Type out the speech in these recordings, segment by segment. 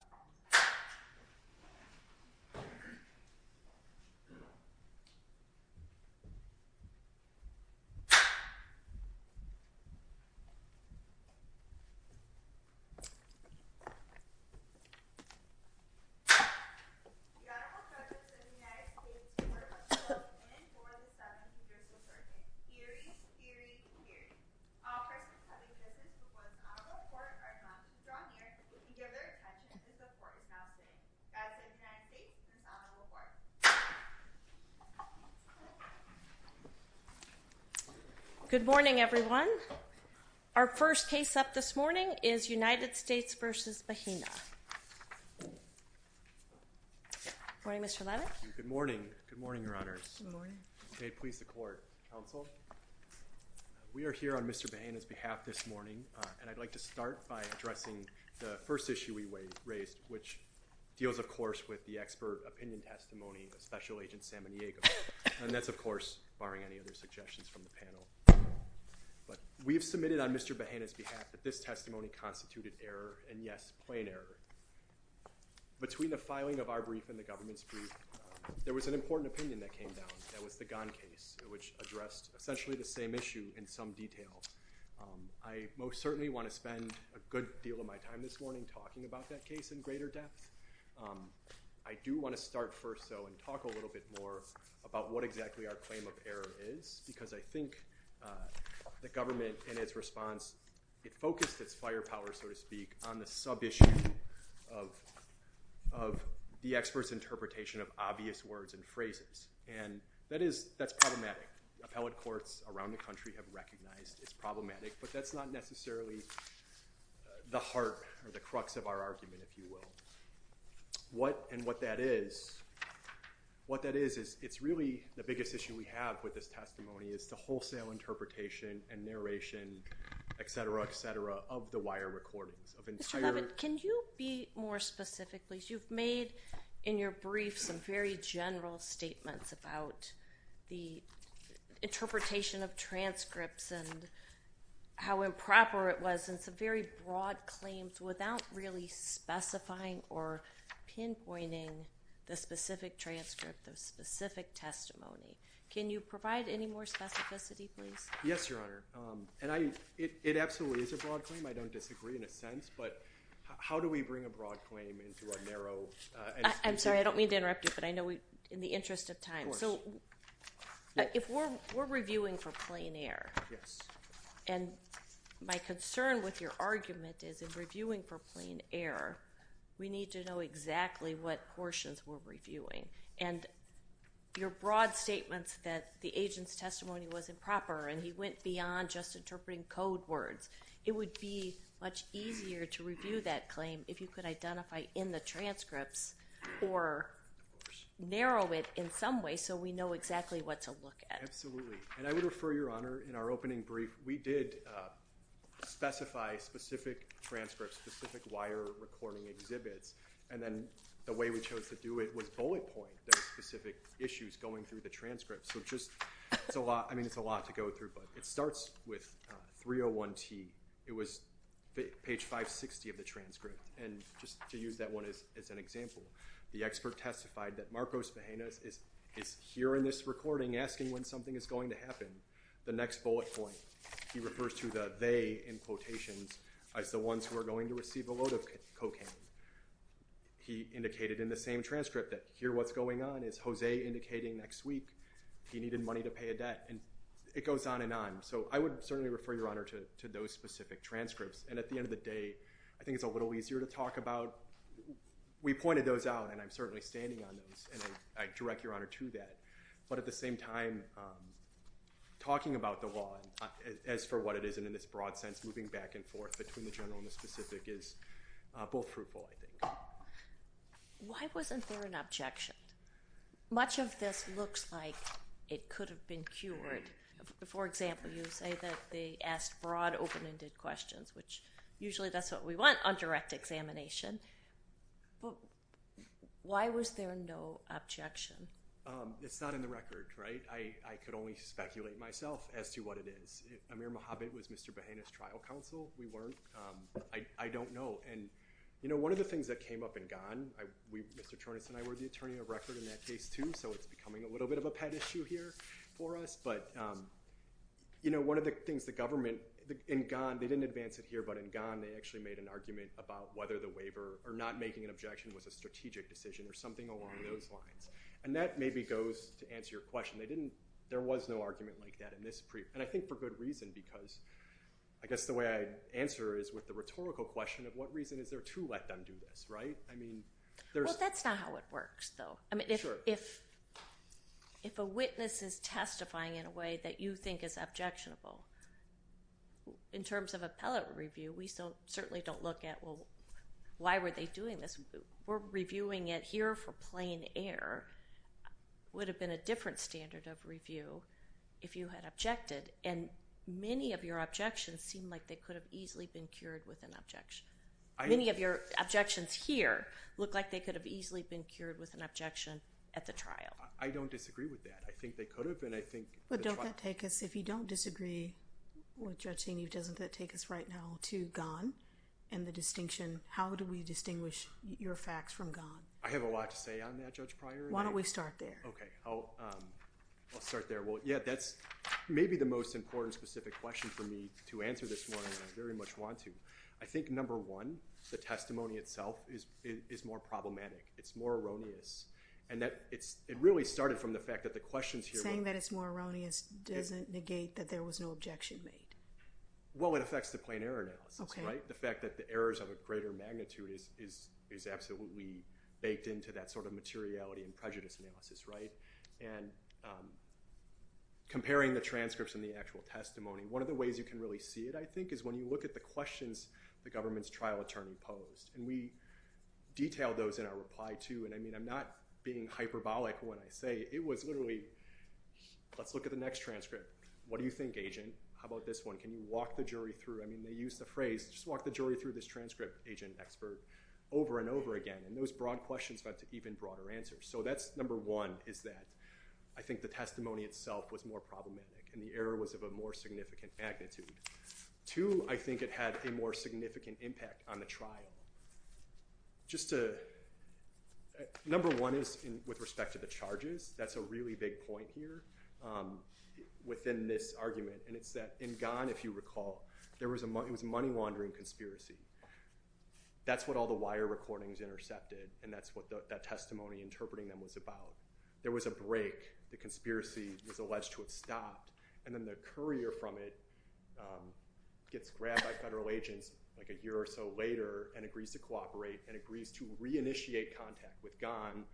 The Honorable Justice of the United States Court of Appeals in and for the 17th District of Georgia in series, series, series. All persons having business before the Honorable Court are not to be drawn near to give their attention if the Court is not sitting. That is the United States and the Honorable Court. We're here on Mr. Bahena's behalf this morning, and I'd like to start by addressing the first issue we raised, which deals, of course, with the expert opinion testimony of Special Agent Samaniego. And that's, of course, barring any other suggestions from the panel. But we have submitted on Mr. Bahena's behalf that this testimony constituted error, and yes, plain error. Between the filing of our brief and the government's brief, there was an important opinion that came down. That was the Ghan case, which addressed essentially the same issue in some detail. I most certainly want to spend a good deal of my time this morning talking about that case in greater depth. I do want to start first, though, and talk a little bit more about what exactly our claim of error is, because I think the government, in its response, it focused its firepower, so to speak, on the sub-issue of the expert's interpretation of obvious words and phrases. And that's problematic. Appellate courts around the country have recognized it's problematic, but that's not necessarily the heart or the crux of our argument, if you will. What and what that is, what that is is it's really the biggest issue we have with this testimony is the wholesale interpretation and narration, etc., etc., of the wire recordings. Can you be more specific, please? You've made in your brief some very general statements about the interpretation of transcripts and how improper it was, and some very broad claims without really specifying or pinpointing the specific transcript, the specific testimony. Can you provide any more specificity, please? Yes, Your Honor. And it absolutely is a broad claim. I don't disagree in a sense, but how do we bring a broad claim into a narrow institution? I'm sorry. I don't mean to interrupt you, but I know in the interest of time. So if we're reviewing for plain error, and my concern with your argument is in reviewing for plain error, we need to know exactly what portions we're reviewing. And your broad statements that the agent's testimony was improper and he went beyond just interpreting code words, it would be much easier to review that claim if you could identify in the transcripts or narrow it in some way so we know exactly what to look at. Absolutely. And I would refer, Your Honor, in our opening brief, we did specify specific transcripts, specific wire recording exhibits. And then the way we chose to do it was bullet point those specific issues going through the transcripts. So just it's a lot. I mean, it's a lot to go through, but it starts with 301T. It was page 560 of the transcript. And just to use that one as an example, the expert testified that Marcos Mejenas is here in this recording asking when something is going to happen. The next bullet point, he refers to the they in quotations as the ones who are going to receive a load of cocaine. He indicated in the same transcript that here what's going on is Jose indicating next week he needed money to pay a debt. And it goes on and on. So I would certainly refer, Your Honor, to those specific transcripts. And at the end of the day, I think it's a little easier to talk about. We pointed those out, and I'm certainly standing on those, and I direct Your Honor to that. But at the same time, talking about the law as for what it is and in this broad sense moving back and forth between the general and the specific is both fruitful, I think. Why wasn't there an objection? Much of this looks like it could have been cured. For example, you say that they asked broad, open-ended questions, which usually that's what we want on direct examination. Why was there no objection? It's not in the record, right? I could only speculate myself as to what it is. Amir Mohamed was Mr. Mejenas' trial counsel. We weren't. I don't know. And, you know, one of the things that came up in Ghan, Mr. Chornis and I were the attorney of record in that case too, so it's becoming a little bit of a pet issue here for us. But, you know, one of the things the government in Ghan, they didn't advance it here, but in Ghan they actually made an argument about whether the waiver or not making an objection was a strategic decision or something along those lines. And that maybe goes to answer your question. There was no argument like that in this brief, and I think for good reason because I guess the way I'd answer is with the rhetorical question of what reason is there to let them do this, right? Well, that's not how it works, though. I mean, if a witness is testifying in a way that you think is objectionable, in terms of appellate review, we certainly don't look at, well, why were they doing this? We're reviewing it here for plain air. It would have been a different standard of review if you had objected, and many of your objections seem like they could have easily been cured with an objection. Many of your objections here look like they could have easily been cured with an objection at the trial. I don't disagree with that. I think they could have, and I think the trial- But don't that take us, if you don't disagree with Judge Zinni, doesn't that take us right now to Ghan and the distinction, how do we distinguish your facts from Ghan? I have a lot to say on that, Judge Pryor. Why don't we start there? Okay, I'll start there. Well, yeah, that's maybe the most important specific question for me to answer this morning, and I very much want to. I think, number one, the testimony itself is more problematic. It's more erroneous, and it really started from the fact that the questions here- Saying that it's more erroneous doesn't negate that there was no objection made. Well, it affects the plain error analysis, right? The fact that the errors have a greater magnitude is absolutely baked into that sort of materiality and prejudice analysis, right? And comparing the transcripts and the actual testimony, one of the ways you can really see it, I think, is when you look at the questions the government's trial attorney posed. And we detailed those in our reply, too. And, I mean, I'm not being hyperbolic when I say it was literally, let's look at the next transcript. What do you think, agent? How about this one? Can you walk the jury through- I mean, they used the phrase, just walk the jury through this transcript, agent, expert, over and over again. And those broad questions led to even broader answers. So that's, number one, is that I think the testimony itself was more problematic, and the error was of a more significant magnitude. Two, I think it had a more significant impact on the trial. Just to- number one is with respect to the charges. That's a really big point here within this argument. And it's that in Ghan, if you recall, there was a- it was a money laundering conspiracy. That's what all the wire recordings intercepted. And that's what that testimony interpreting them was about. There was a break. The conspiracy was alleged to have stopped. And then the courier from it gets grabbed by federal agents like a year or so later and agrees to cooperate and agrees to reinitiate contact with Ghan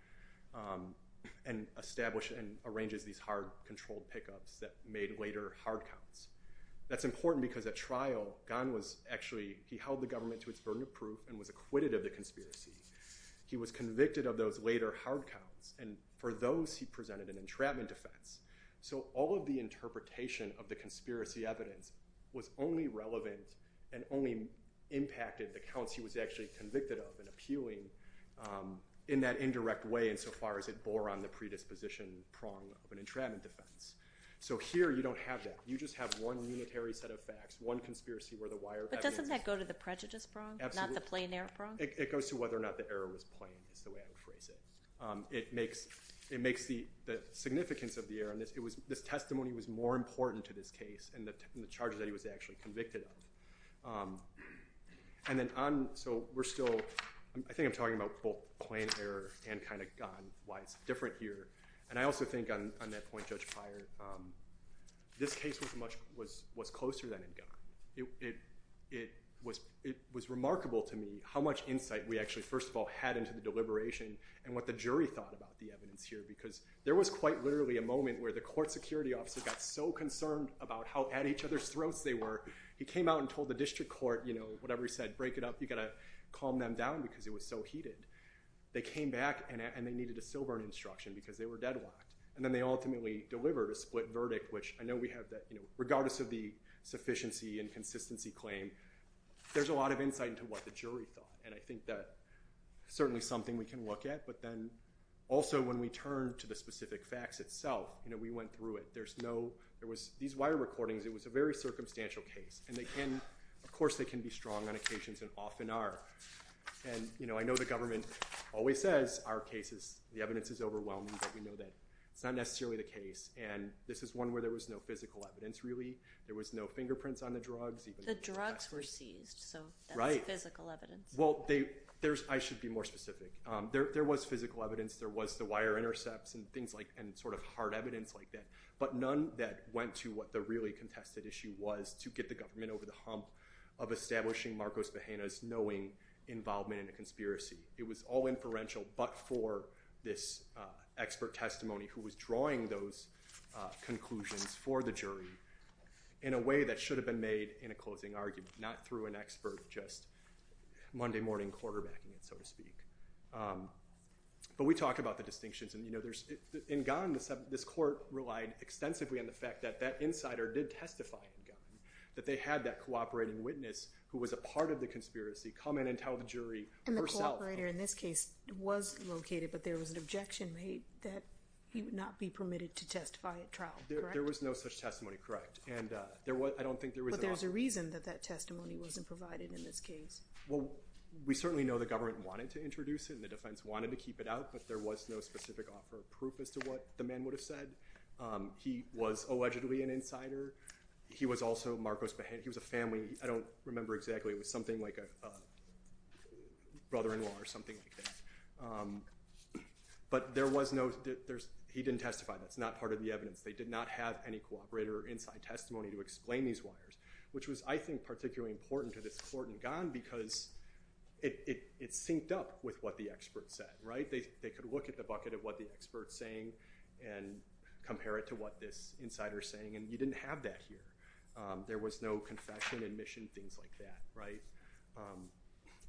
and establish- and arranges these hard controlled pickups that made later hard counts. That's important because at trial, Ghan was actually- he held the government to its burden of proof and was acquitted of the conspiracy. He was convicted of those later hard counts. And for those, he presented an entrapment defense. So all of the interpretation of the conspiracy evidence was only relevant and only impacted the counts he was actually convicted of and appealing in that indirect way insofar as it bore on the predisposition prong of an entrapment defense. So here, you don't have that. You just have one unitary set of facts, one conspiracy where the wire evidence- But doesn't that go to the prejudice prong? Absolutely. Not the plain error prong? It goes to whether or not the error was plain is the way I would phrase it. It makes the significance of the error- this testimony was more important to this case and the charges that he was actually convicted of. And then on- so we're still- I think I'm talking about both plain error and kind of Ghan, why it's different here. And I also think on that point, Judge Pryor, this case was much- was closer than in Ghan. It was remarkable to me how much insight we actually, first of all, had into the deliberation and what the jury thought about the evidence here because there was quite literally a moment where the court security officer got so concerned about how at each other's throats they were. He came out and told the district court, you know, whatever he said, break it up. You got to calm them down because it was so heated. They came back and they needed a silver instruction because they were deadlocked. And then they ultimately delivered a split verdict, which I know we have that, you know, regardless of the sufficiency and consistency claim, there's a lot of insight into what the jury thought. And I think that certainly something we can look at. But then also when we turn to the specific facts itself, you know, we went through it. There's no- there was- these wire recordings, it was a very circumstantial case. And they can- of course they can be strong on occasions and often are. And, you know, I know the government always says our case is- the evidence is overwhelming, but we know that it's not necessarily the case. And this is one where there was no physical evidence really. There was no fingerprints on the drugs. The drugs were seized, so that's physical evidence. Well, they- there's- I should be more specific. There was physical evidence. There was the wire intercepts and things like- and sort of hard evidence like that. But none that went to what the really contested issue was to get the government over the hump of establishing Marcos Bahena's knowing involvement in a conspiracy. It was all inferential but for this expert testimony who was drawing those conclusions for the jury in a way that should have been made in a closing argument, not through an expert just Monday morning quarterbacking it, so to speak. But we talked about the distinctions. And, you know, there's- in Ghan, this court relied extensively on the fact that that insider did testify in Ghan, that they had that cooperating witness who was a part of the conspiracy come in and tell the jury herself. And the cooperator in this case was located, but there was an objection made that he would not be permitted to testify at trial, correct? There was no such testimony, correct. And there was- I don't think there was- But there's a reason that that testimony wasn't provided in this case. Well, we certainly know the government wanted to introduce it and the defense wanted to keep it out, but there was no specific offer of proof as to what the man would have said. He was allegedly an insider. He was also Marcos Bahena. He was a family- I don't remember exactly. It was something like a brother-in-law or something like that. But there was no- he didn't testify. That's not part of the evidence. They did not have any cooperator inside testimony to explain these wires, which was, I think, particularly important to this court in Ghan because it synced up with what the expert said, right? They could look at the bucket of what the expert's saying and compare it to what this insider's saying, and you didn't have that here. There was no confession, admission, things like that, right?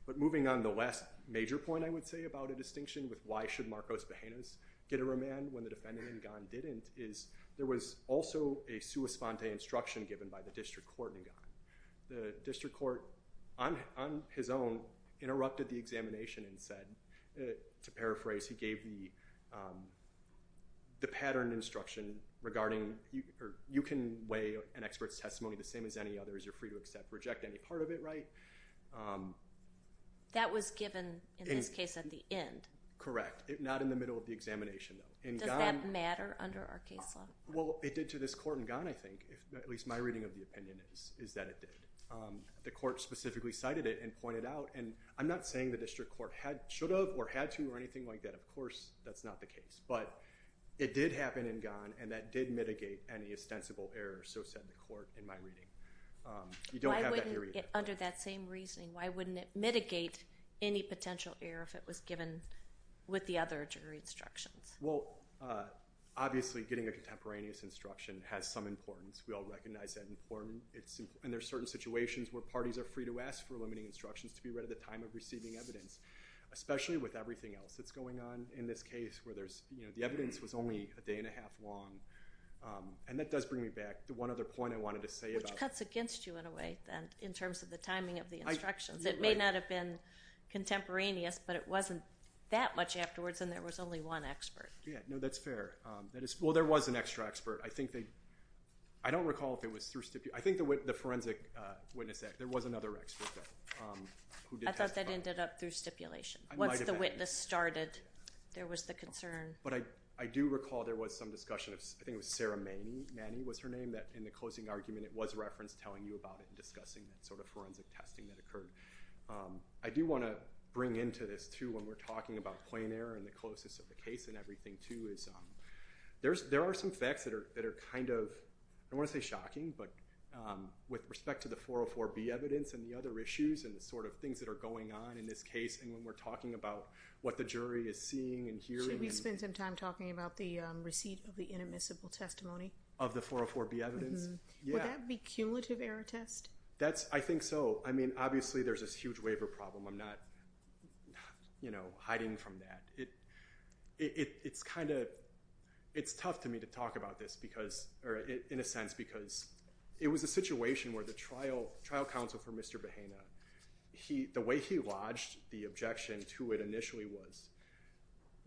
But moving on, the last major point I would say about a distinction with why should Marcos Bahena's get a remand when the defendant in Ghan didn't is there was also a sua sponte instruction given by the district court in Ghan. The district court, on his own, interrupted the examination and said- to paraphrase, he gave the patterned instruction regarding- you can weigh an expert's testimony the same as any other as you're free to accept or reject any part of it, right? That was given, in this case, at the end. Correct. Not in the middle of the examination, though. Does that matter under our case law? Well, it did to this court in Ghan, I think, at least my reading of the opinion is that it did. The court specifically cited it and pointed out, and I'm not saying the district court should have or had to or anything like that. Of course, that's not the case. But it did happen in Ghan, and that did mitigate any ostensible error, so said the court in my reading. Why wouldn't it, under that same reasoning, why wouldn't it mitigate any potential error if it was given with the other jury instructions? Well, obviously, getting a contemporaneous instruction has some importance. We all recognize that it's important. And there are certain situations where parties are free to ask for limiting instructions to be read at the time of receiving evidence, especially with everything else that's going on in this case where the evidence was only a day and a half long. And that does bring me back to one other point I wanted to say about- Well, it cuts against you in a way, then, in terms of the timing of the instructions. It may not have been contemporaneous, but it wasn't that much afterwards, and there was only one expert. Yeah, no, that's fair. Well, there was an extra expert. I don't recall if it was through stipulation. I think the Forensic Witness Act, there was another expert who did testify. I thought that ended up through stipulation. Once the witness started, there was the concern. But I do recall there was some discussion. I think it was Sarah Manny was her name that, in the closing argument, it was referenced telling you about it and discussing that sort of forensic testing that occurred. I do want to bring into this, too, when we're talking about plain error and the closeness of the case and everything, too, is there are some facts that are kind of- I don't want to say shocking, but with respect to the 404B evidence and the other issues and the sort of things that are going on in this case, and when we're talking about what the jury is seeing and hearing- Could we spend some time talking about the receipt of the inadmissible testimony? Of the 404B evidence? Yeah. Would that be cumulative error test? I think so. I mean, obviously, there's this huge waiver problem. I'm not hiding from that. It's tough to me to talk about this, in a sense, because it was a situation where the trial counsel for Mr. Bahena, the way he lodged the objection to it initially was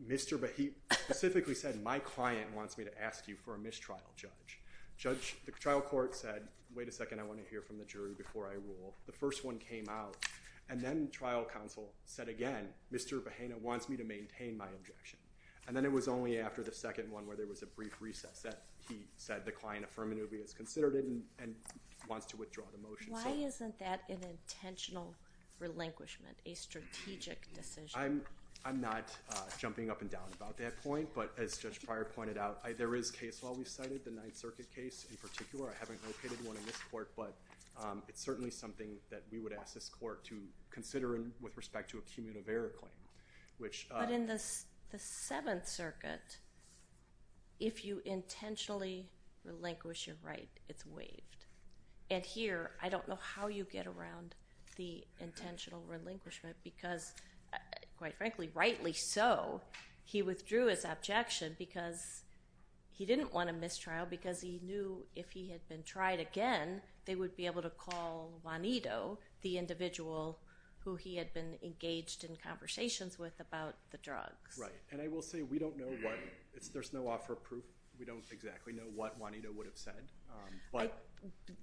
Mr. Bahena- He specifically said, my client wants me to ask you for a mistrial, Judge. The trial court said, wait a second, I want to hear from the jury before I rule. The first one came out, and then trial counsel said again, Mr. Bahena wants me to maintain my objection. And then it was only after the second one where there was a brief recess that he said the client affirmatively has considered it and wants to withdraw the motion. Why isn't that an intentional relinquishment, a strategic decision? I'm not jumping up and down about that point, but as Judge Pryor pointed out, there is case law we cited, the Ninth Circuit case in particular. I haven't located one in this court, but it's certainly something that we would ask this court to consider with respect to a cumulative error claim, which- But in the Seventh Circuit, if you intentionally relinquish your right, it's waived. And here, I don't know how you get around the intentional relinquishment because, quite frankly, rightly so, he withdrew his objection because he didn't want a mistrial because he knew if he had been tried again, they would be able to call Juanito, the individual who he had been engaged in conversations with about the drugs. Right. And I will say, we don't know what- there's no offer of proof. We don't exactly know what Juanito would have said.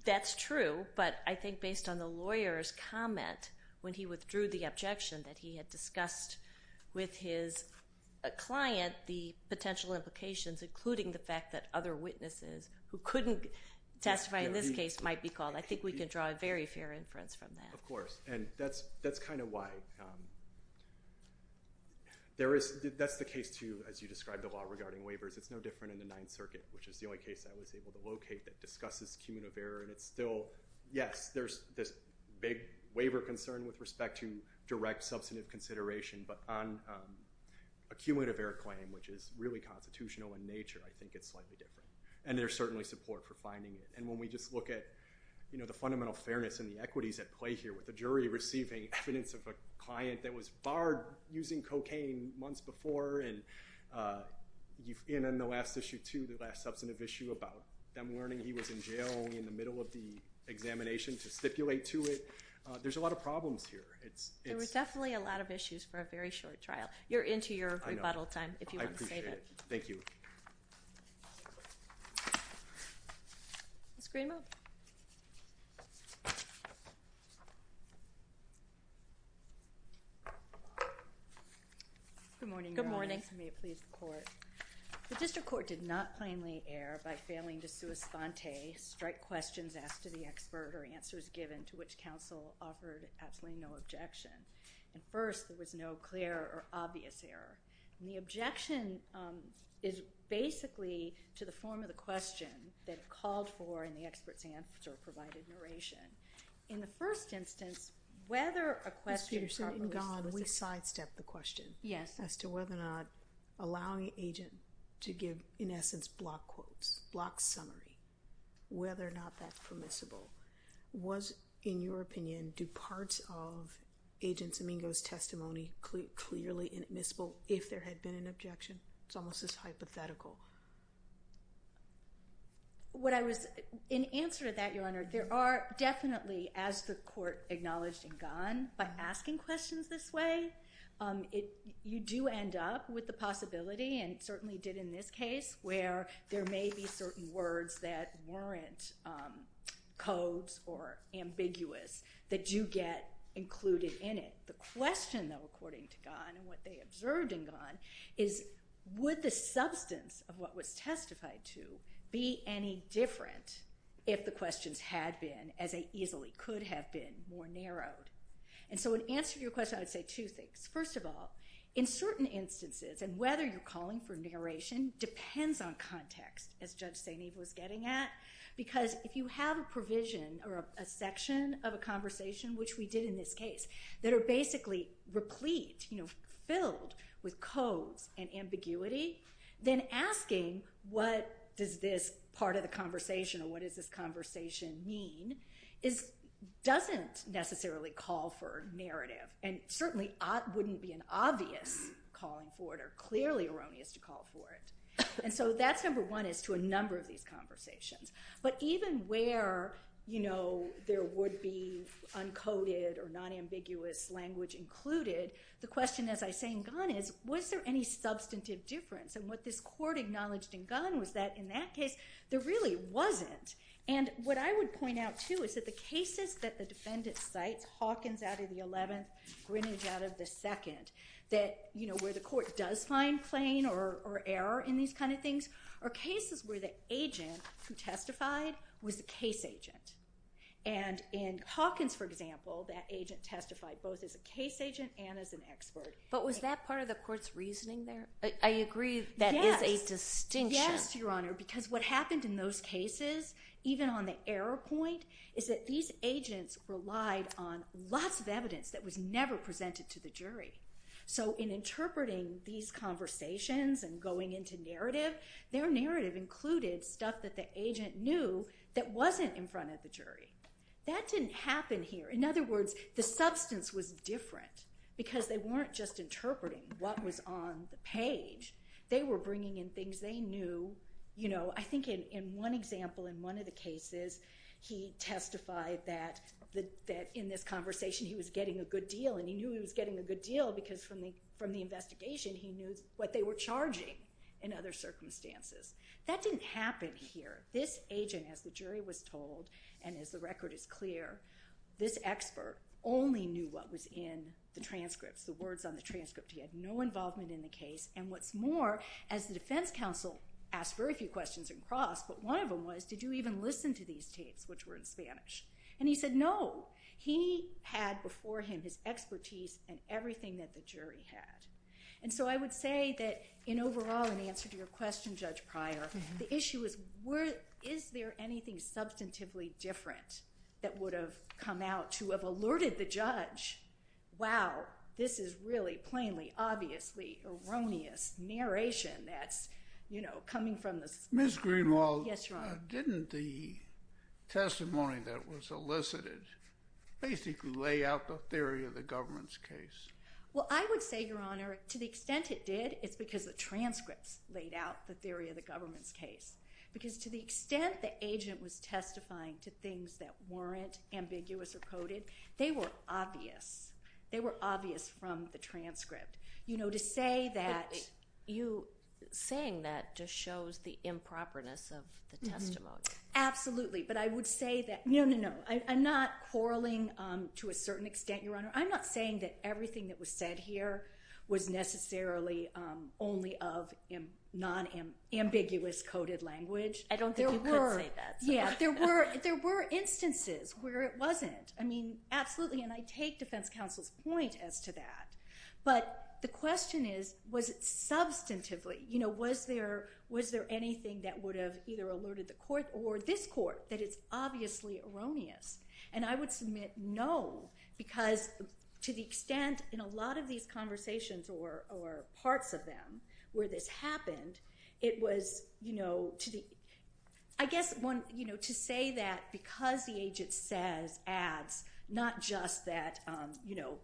That's true, but I think based on the lawyer's comment when he withdrew the objection that he had discussed with his client the potential implications, including the fact that other witnesses who couldn't testify in this case might be called, I think we can draw a very fair inference from that. Of course. And that's kind of why. That's the case, too, as you described the law regarding waivers. It's no different in the Ninth Circuit, which is the only case I was able to locate that discusses cumulative error. And it's still, yes, there's this big waiver concern with respect to direct substantive consideration. But on a cumulative error claim, which is really constitutional in nature, I think it's slightly different. And there's certainly support for finding it. And when we just look at the fundamental fairness and the equities at play here with the jury receiving evidence of a client that was barred using cocaine months before, and in the last issue, too, the last substantive issue about them learning he was in jail in the middle of the examination to stipulate to it. There's a lot of problems here. There were definitely a lot of issues for a very short trial. You're into your rebuttal time if you want to say that. I know. I appreciate it. Thank you. Screamer. Good morning. Good morning. May it please the court. The district court did not plainly err by failing to sui sponte strike questions asked to the expert or answers given to which counsel offered absolutely no objection. And first, there was no clear or obvious error. The objection is basically to the form of the question that it called for in the experts answer provided narration. In the first instance, whether a question. God, we sidestepped the question. Yes. As to whether or not allowing agent to give, in essence, block quotes, block summary, whether or not that permissible was, in your opinion, do parts of agents Amigo's testimony clearly admissible. If there had been an objection, it's almost as hypothetical. What I was in answer to that, your honor, there are definitely as the court acknowledged and gone by asking questions this way. You do end up with the possibility and certainly did in this case where there may be certain words that weren't codes or ambiguous that you get included in it. The question, though, according to God and what they observed in God is what the substance of what was testified to be any different. If the questions had been as easily could have been more narrowed. And so in answer to your question, I would say two things. First of all, in certain instances and whether you're calling for narration depends on context. As Judge St. Eve was getting at. Because if you have a provision or a section of a conversation, which we did in this case, that are basically replete, you know, filled with codes and ambiguity. Then asking what does this part of the conversation or what is this conversation mean is doesn't necessarily call for narrative. And certainly wouldn't be an obvious calling for it or clearly erroneous to call for it. And so that's number one is to a number of these conversations. But even where, you know, there would be uncoded or non-ambiguous language included. The question, as I say in God is, was there any substantive difference? And what this court acknowledged in God was that in that case, there really wasn't. And what I would point out, too, is that the cases that the defendant sites Hawkins out of the 11th, Greenwich out of the second. That, you know, where the court does find plain or error in these kind of things are cases where the agent who testified was the case agent. And in Hawkins, for example, that agent testified both as a case agent and as an expert. But was that part of the court's reasoning there? I agree that is a distinction. Yes, Your Honor, because what happened in those cases, even on the error point, is that these agents relied on lots of evidence that was never presented to the jury. So in interpreting these conversations and going into narrative, their narrative included stuff that the agent knew that wasn't in front of the jury. That didn't happen here. In other words, the substance was different because they weren't just interpreting what was on the page. They were bringing in things they knew. You know, I think in one example, in one of the cases, he testified that in this conversation, he was getting a good deal. And he knew he was getting a good deal because from the investigation, he knew what they were charging in other circumstances. That didn't happen here. This agent, as the jury was told, and as the record is clear, this expert only knew what was in the transcripts, the words on the transcript. He had no involvement in the case. And what's more, as the defense counsel asked very few questions in cross, but one of them was, did you even listen to these tapes, which were in Spanish? And he said no. He had before him his expertise and everything that the jury had. And so I would say that in overall, in answer to your question, Judge Pryor, the issue is, is there anything substantively different that would have come out to have alerted the judge, wow, this is really plainly, obviously erroneous narration that's, you know, coming from this. Ms. Greenwald. Yes, Your Honor. Didn't the testimony that was elicited basically lay out the theory of the government's case? Well, I would say, Your Honor, to the extent it did, it's because the transcripts laid out the theory of the government's case. Because to the extent the agent was testifying to things that weren't ambiguous or coded, they were obvious. They were obvious from the transcript. You know, to say that. You saying that just shows the improperness of the testimony. Absolutely. But I would say that, no, no, no. Your Honor, I'm not saying that everything that was said here was necessarily only of non-ambiguous coded language. I don't think you could say that. Yeah, there were instances where it wasn't. I mean, absolutely, and I take defense counsel's point as to that. But the question is, was it substantively? You know, was there anything that would have either alerted the court or this court that it's obviously erroneous? And I would submit, no, because to the extent in a lot of these conversations or parts of them where this happened, it was, you know, to the. I guess one, you know, to say that because the agent says ads, not just that, you know,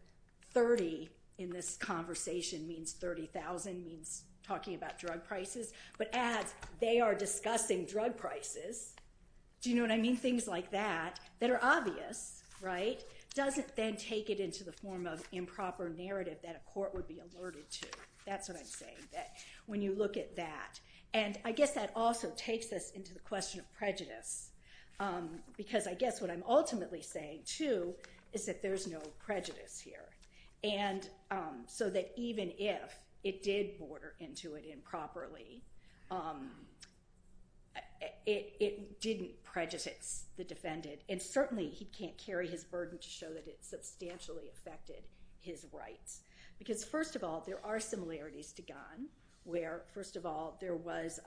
30 in this conversation means 30,000 means talking about drug prices. But ads, they are discussing drug prices. Do you know what I mean? Things like that that are obvious, right, doesn't then take it into the form of improper narrative that a court would be alerted to. That's what I'm saying, that when you look at that. And I guess that also takes us into the question of prejudice, because I guess what I'm ultimately saying, too, is that there's no prejudice here. And so that even if it did border into it improperly, it didn't prejudice the defendant. And certainly he can't carry his burden to show that it substantially affected his rights. Because, first of all, there are similarities to Gunn, where, first of all, there was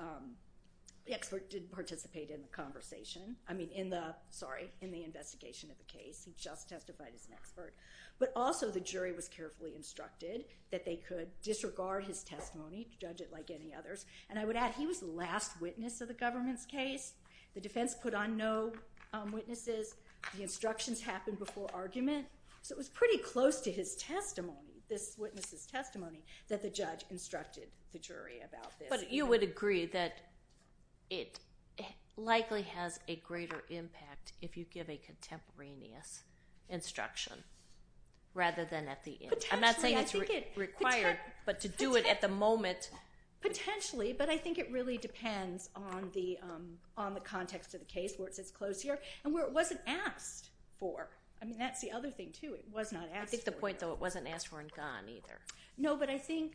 the expert didn't participate in the conversation. I mean, in the, sorry, in the investigation of the case. He just testified as an expert. But also the jury was carefully instructed that they could disregard his testimony, judge it like any others. And I would add he was the last witness of the government's case. The defense put on no witnesses. The instructions happened before argument. So it was pretty close to his testimony, this witness's testimony, that the judge instructed the jury about this. But you would agree that it likely has a greater impact if you give a contemporaneous instruction, rather than at the end. Potentially. I'm not saying it's required, but to do it at the moment. Potentially, but I think it really depends on the context of the case, where it sits close here, and where it wasn't asked for. I mean, that's the other thing, too. It was not asked for. I think the point, though, it wasn't asked for in Gunn, either. No, but I think,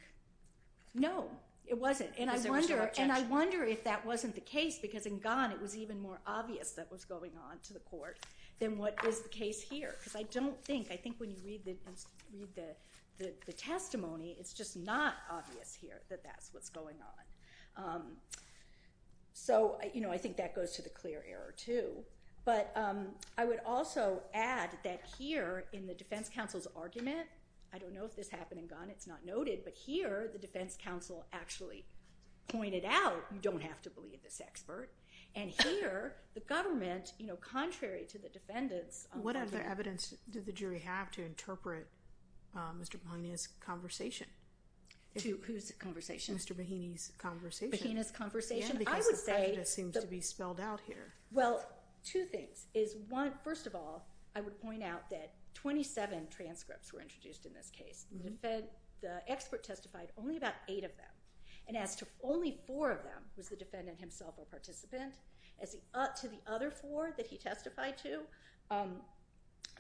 no, it wasn't. And I wonder if that wasn't the case, because in Gunn, it was even more obvious that was going on to the court than what is the case here. Because I don't think, I think when you read the testimony, it's just not obvious here that that's what's going on. So, you know, I think that goes to the clear error, too. But I would also add that here, in the defense counsel's argument, I don't know if this happened in Gunn, it's not noted. But here, the defense counsel actually pointed out, you don't have to believe this expert. And here, the government, you know, contrary to the defendant's argument. What other evidence did the jury have to interpret Mr. Mahaney's conversation? Whose conversation? Mr. Mahaney's conversation. Mahaney's conversation? Yeah, because the prejudice seems to be spelled out here. Well, two things. First of all, I would point out that 27 transcripts were introduced in this case. The expert testified only about eight of them. And as to only four of them, was the defendant himself a participant. As to the other four that he testified to,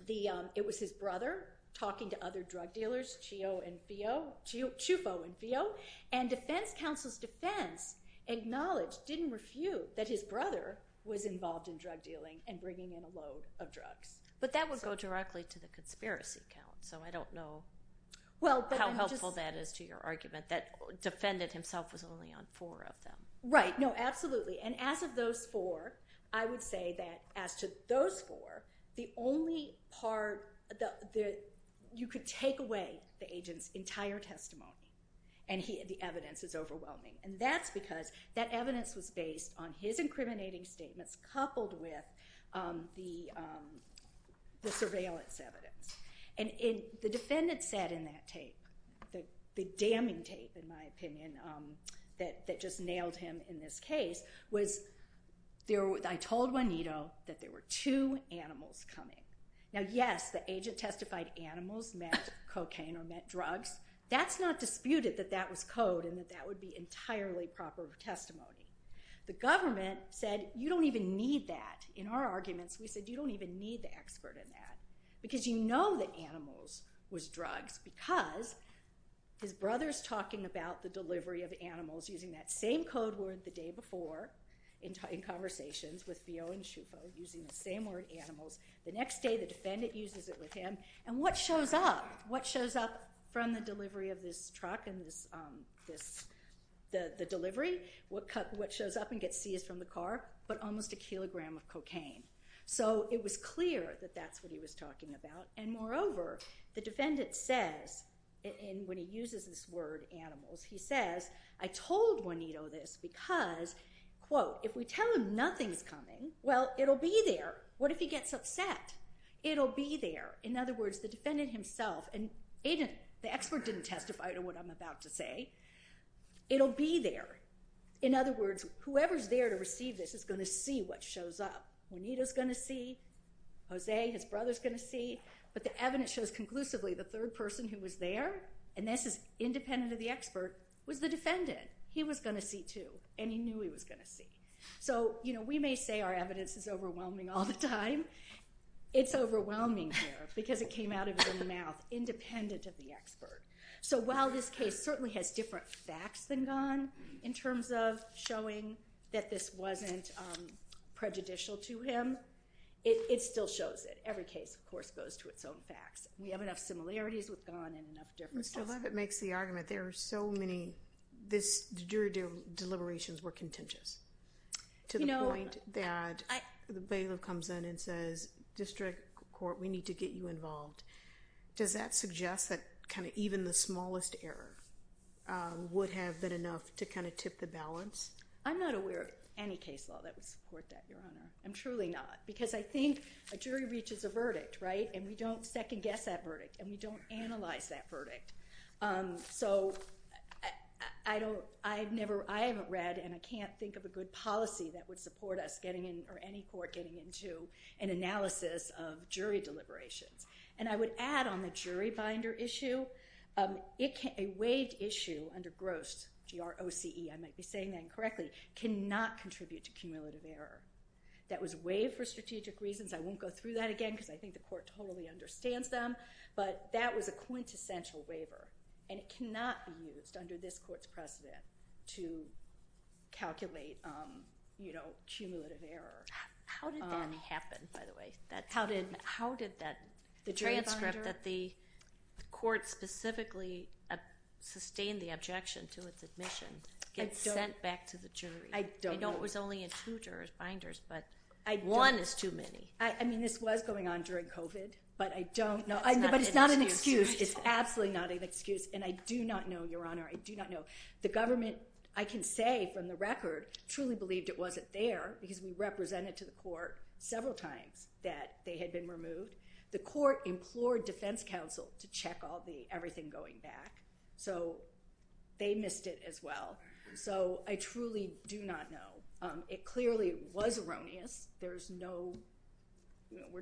it was his brother talking to other drug dealers, Chio and Fio, Chufo and Fio. And defense counsel's defense acknowledged, didn't refute, that his brother was involved in drug dealing and bringing in a load of drugs. But that would go directly to the conspiracy count. So I don't know how helpful that is to your argument, that defendant himself was only on four of them. Right. No, absolutely. And as of those four, I would say that as to those four, the only part that you could take away the agent's entire testimony. And the evidence is overwhelming. And that's because that evidence was based on his incriminating statements coupled with the surveillance evidence. And the defendant said in that tape, the damning tape, in my opinion, that just nailed him in this case, was, I told Juanito that there were two animals coming. Now, yes, the agent testified animals meant cocaine or meant drugs. That's not disputed that that was code and that that would be entirely proper testimony. The government said, you don't even need that. In our arguments, we said, you don't even need the expert in that. Because you know that animals was drugs because his brother's talking about the delivery of animals, using that same code word the day before in conversations with Fio and Chufo, using the same word animals. The next day, the defendant uses it with him. And what shows up, what shows up from the delivery of this truck and the delivery, what shows up and gets seized from the car, but almost a kilogram of cocaine. So it was clear that that's what he was talking about. And moreover, the defendant says, and when he uses this word animals, he says, I told Juanito this because, quote, if we tell him nothing's coming, well, it'll be there. What if he gets upset? It'll be there. In other words, the defendant himself, and the expert didn't testify to what I'm about to say. It'll be there. In other words, whoever's there to receive this is going to see what shows up. Juanito's going to see. Jose, his brother's going to see. But the evidence shows conclusively the third person who was there, and this is independent of the expert, was the defendant. He was going to see, too. And he knew he was going to see. So, you know, we may say our evidence is overwhelming all the time. It's overwhelming here because it came out of his mouth, independent of the expert. So while this case certainly has different facts than Ghan in terms of showing that this wasn't prejudicial to him, it still shows it. Every case, of course, goes to its own facts. We have enough similarities with Ghan and enough differences. Mr. Levitt makes the argument there are so many jury deliberations were contentious to the point that the bailiff comes in and says, District Court, we need to get you involved. Does that suggest that kind of even the smallest error would have been enough to kind of tip the balance? I'm not aware of any case law that would support that, Your Honor. I'm truly not because I think a jury reaches a verdict, right, and we don't second guess that verdict and we don't analyze that verdict. So I haven't read and I can't think of a good policy that would support us getting in or any court getting into an analysis of jury deliberations. And I would add on the jury binder issue, a waived issue under Grost, G-R-O-C-E, I might be saying that incorrectly, cannot contribute to cumulative error. That was waived for strategic reasons. I won't go through that again because I think the court totally understands them. But that was a quintessential waiver, and it cannot be used under this court's precedent to calculate, you know, cumulative error. How did that happen, by the way? How did that transcript that the court specifically sustained the objection to its admission get sent back to the jury? I don't know. I know it was only in two jurors binders, but one is too many. I mean, this was going on during COVID, but I don't know. But it's not an excuse. It's absolutely not an excuse. And I do not know, Your Honor. I do not know. The government, I can say from the record, truly believed it wasn't there because we represented to the court several times that they had been removed. The court implored defense counsel to check everything going back. So they missed it as well. So I truly do not know. It clearly was erroneous. We're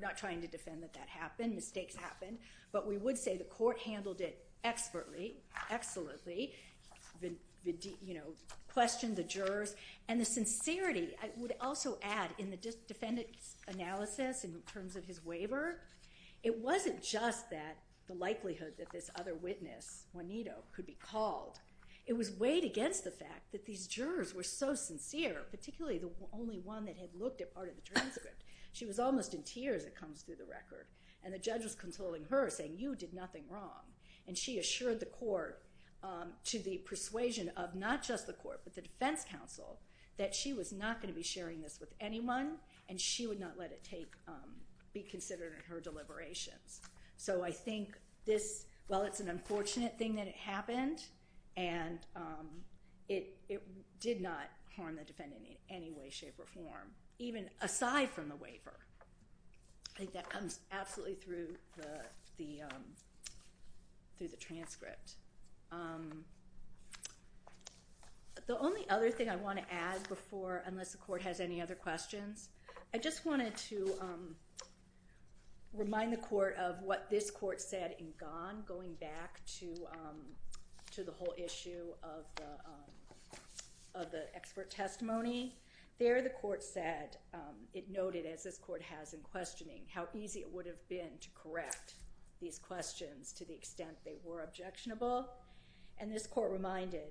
not trying to defend that that happened. Mistakes happened. But we would say the court handled it expertly, excellently, questioned the jurors. And the sincerity, I would also add in the defendant's analysis in terms of his waiver, it wasn't just that the likelihood that this other witness, Juanito, could be called. It was weighed against the fact that these jurors were so sincere, particularly the only one that had looked at part of the transcript. She was almost in tears, it comes through the record. And the judge was consoling her, saying, you did nothing wrong. And she assured the court to the persuasion of not just the court, but the defense counsel, that she was not going to be sharing this with anyone, and she would not let it be considered in her deliberations. So I think this, while it's an unfortunate thing that it happened, and it did not harm the defendant in any way, shape, or form, even aside from the waiver. I think that comes absolutely through the transcript. And the only other thing I want to add before, unless the court has any other questions, I just wanted to remind the court of what this court said in Gan, going back to the whole issue of the expert testimony. There, the court said, it noted, as this court has in questioning, how easy it would have been to correct these questions to the extent they were objectionable. And this court reminded,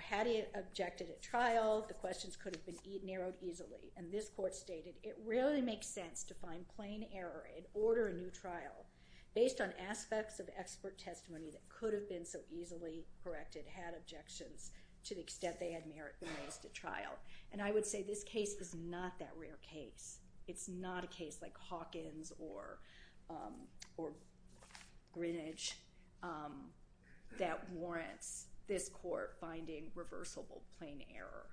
had he objected at trial, the questions could have been narrowed easily. And this court stated, it really makes sense to find plain error and order a new trial based on aspects of expert testimony that could have been so easily corrected had objections to the extent they had merit the most at trial. And I would say this case is not that rare case. It's not a case like Hawkins or Greenidge that warrants this court finding reversible plain error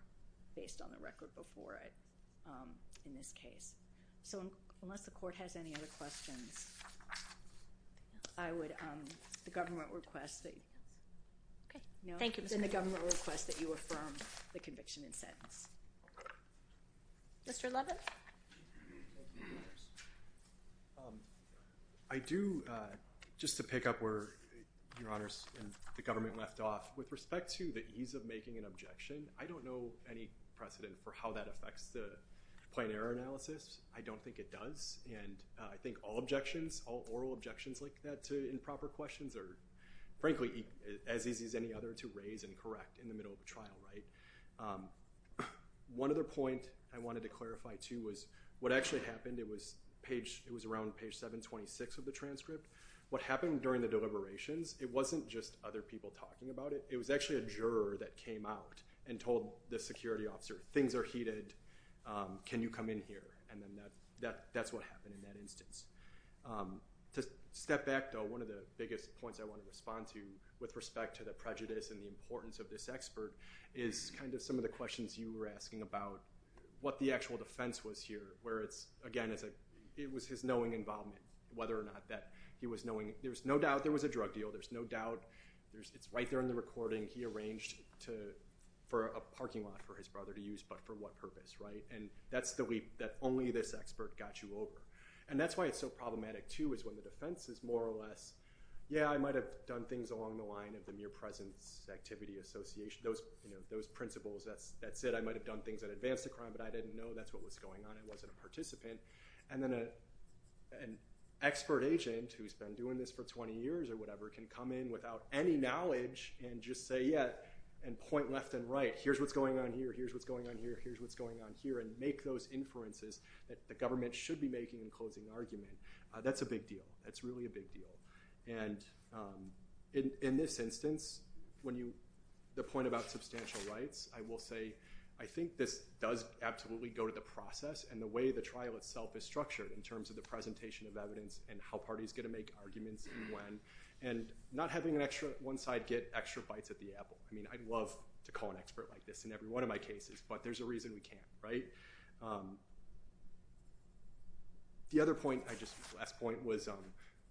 based on the record before it in this case. So unless the court has any other questions, I would, the government requests that you affirm the conviction and sentence. Mr. Levin? I do, just to pick up where your honors and the government left off, with respect to the ease of making an objection, I don't know any precedent for how that affects the plain error analysis. I don't think it does. And I think all objections, all oral objections like that to improper questions are frankly as easy as any other to raise and correct in the middle of the trial. One other point I wanted to clarify, too, was what actually happened, it was around page 726 of the transcript. What happened during the deliberations, it wasn't just other people talking about it. It was actually a juror that came out and told the security officer, things are heated, can you come in here? And then that's what happened in that instance. To step back, though, one of the biggest points I want to respond to with respect to the prejudice and the importance of this expert is kind of some of the questions you were asking about what the actual defense was here. Where it's, again, it was his knowing involvement, whether or not that he was knowing, there's no doubt there was a drug deal, there's no doubt, it's right there in the recording. He arranged for a parking lot for his brother to use, but for what purpose, right? And that's the leap that only this expert got you over. And that's why it's so problematic, too, is when the defense is more or less, yeah, I might have done things along the line of the mere presence activity association. Those principles, that's it, I might have done things that advanced the crime, but I didn't know that's what was going on, I wasn't a participant. And then an expert agent who's been doing this for 20 years or whatever can come in without any knowledge and just say, yeah, and point left and right. Here's what's going on here, here's what's going on here, here's what's going on here, and make those inferences that the government should be making in closing argument. That's a big deal, that's really a big deal. And in this instance, when you, the point about substantial rights, I will say, I think this does absolutely go to the process and the way the trial itself is structured in terms of the presentation of evidence and how parties get to make arguments and when. And not having an extra, one side get extra bites at the apple. I mean, I'd love to call an expert like this in every one of my cases, but there's a reason we can't, right? The other point I just, last point was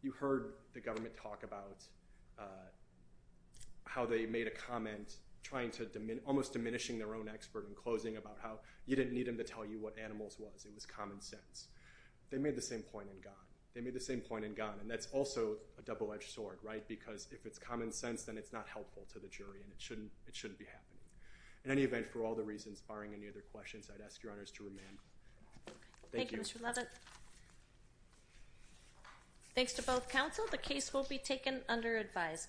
you heard the government talk about how they made a comment trying to, almost diminishing their own expert in closing about how you didn't need them to tell you what animals was, it was common sense. They made the same point in God, they made the same point in God, and that's also a double-edged sword, right? Because if it's common sense, then it's not helpful to the jury and it shouldn't be happening. In any event, for all the reasons barring any other questions, I'd ask your honors to remain. Thank you. Thank you, Mr. Levitt. Thanks to both counsel, the case will be taken under advisement.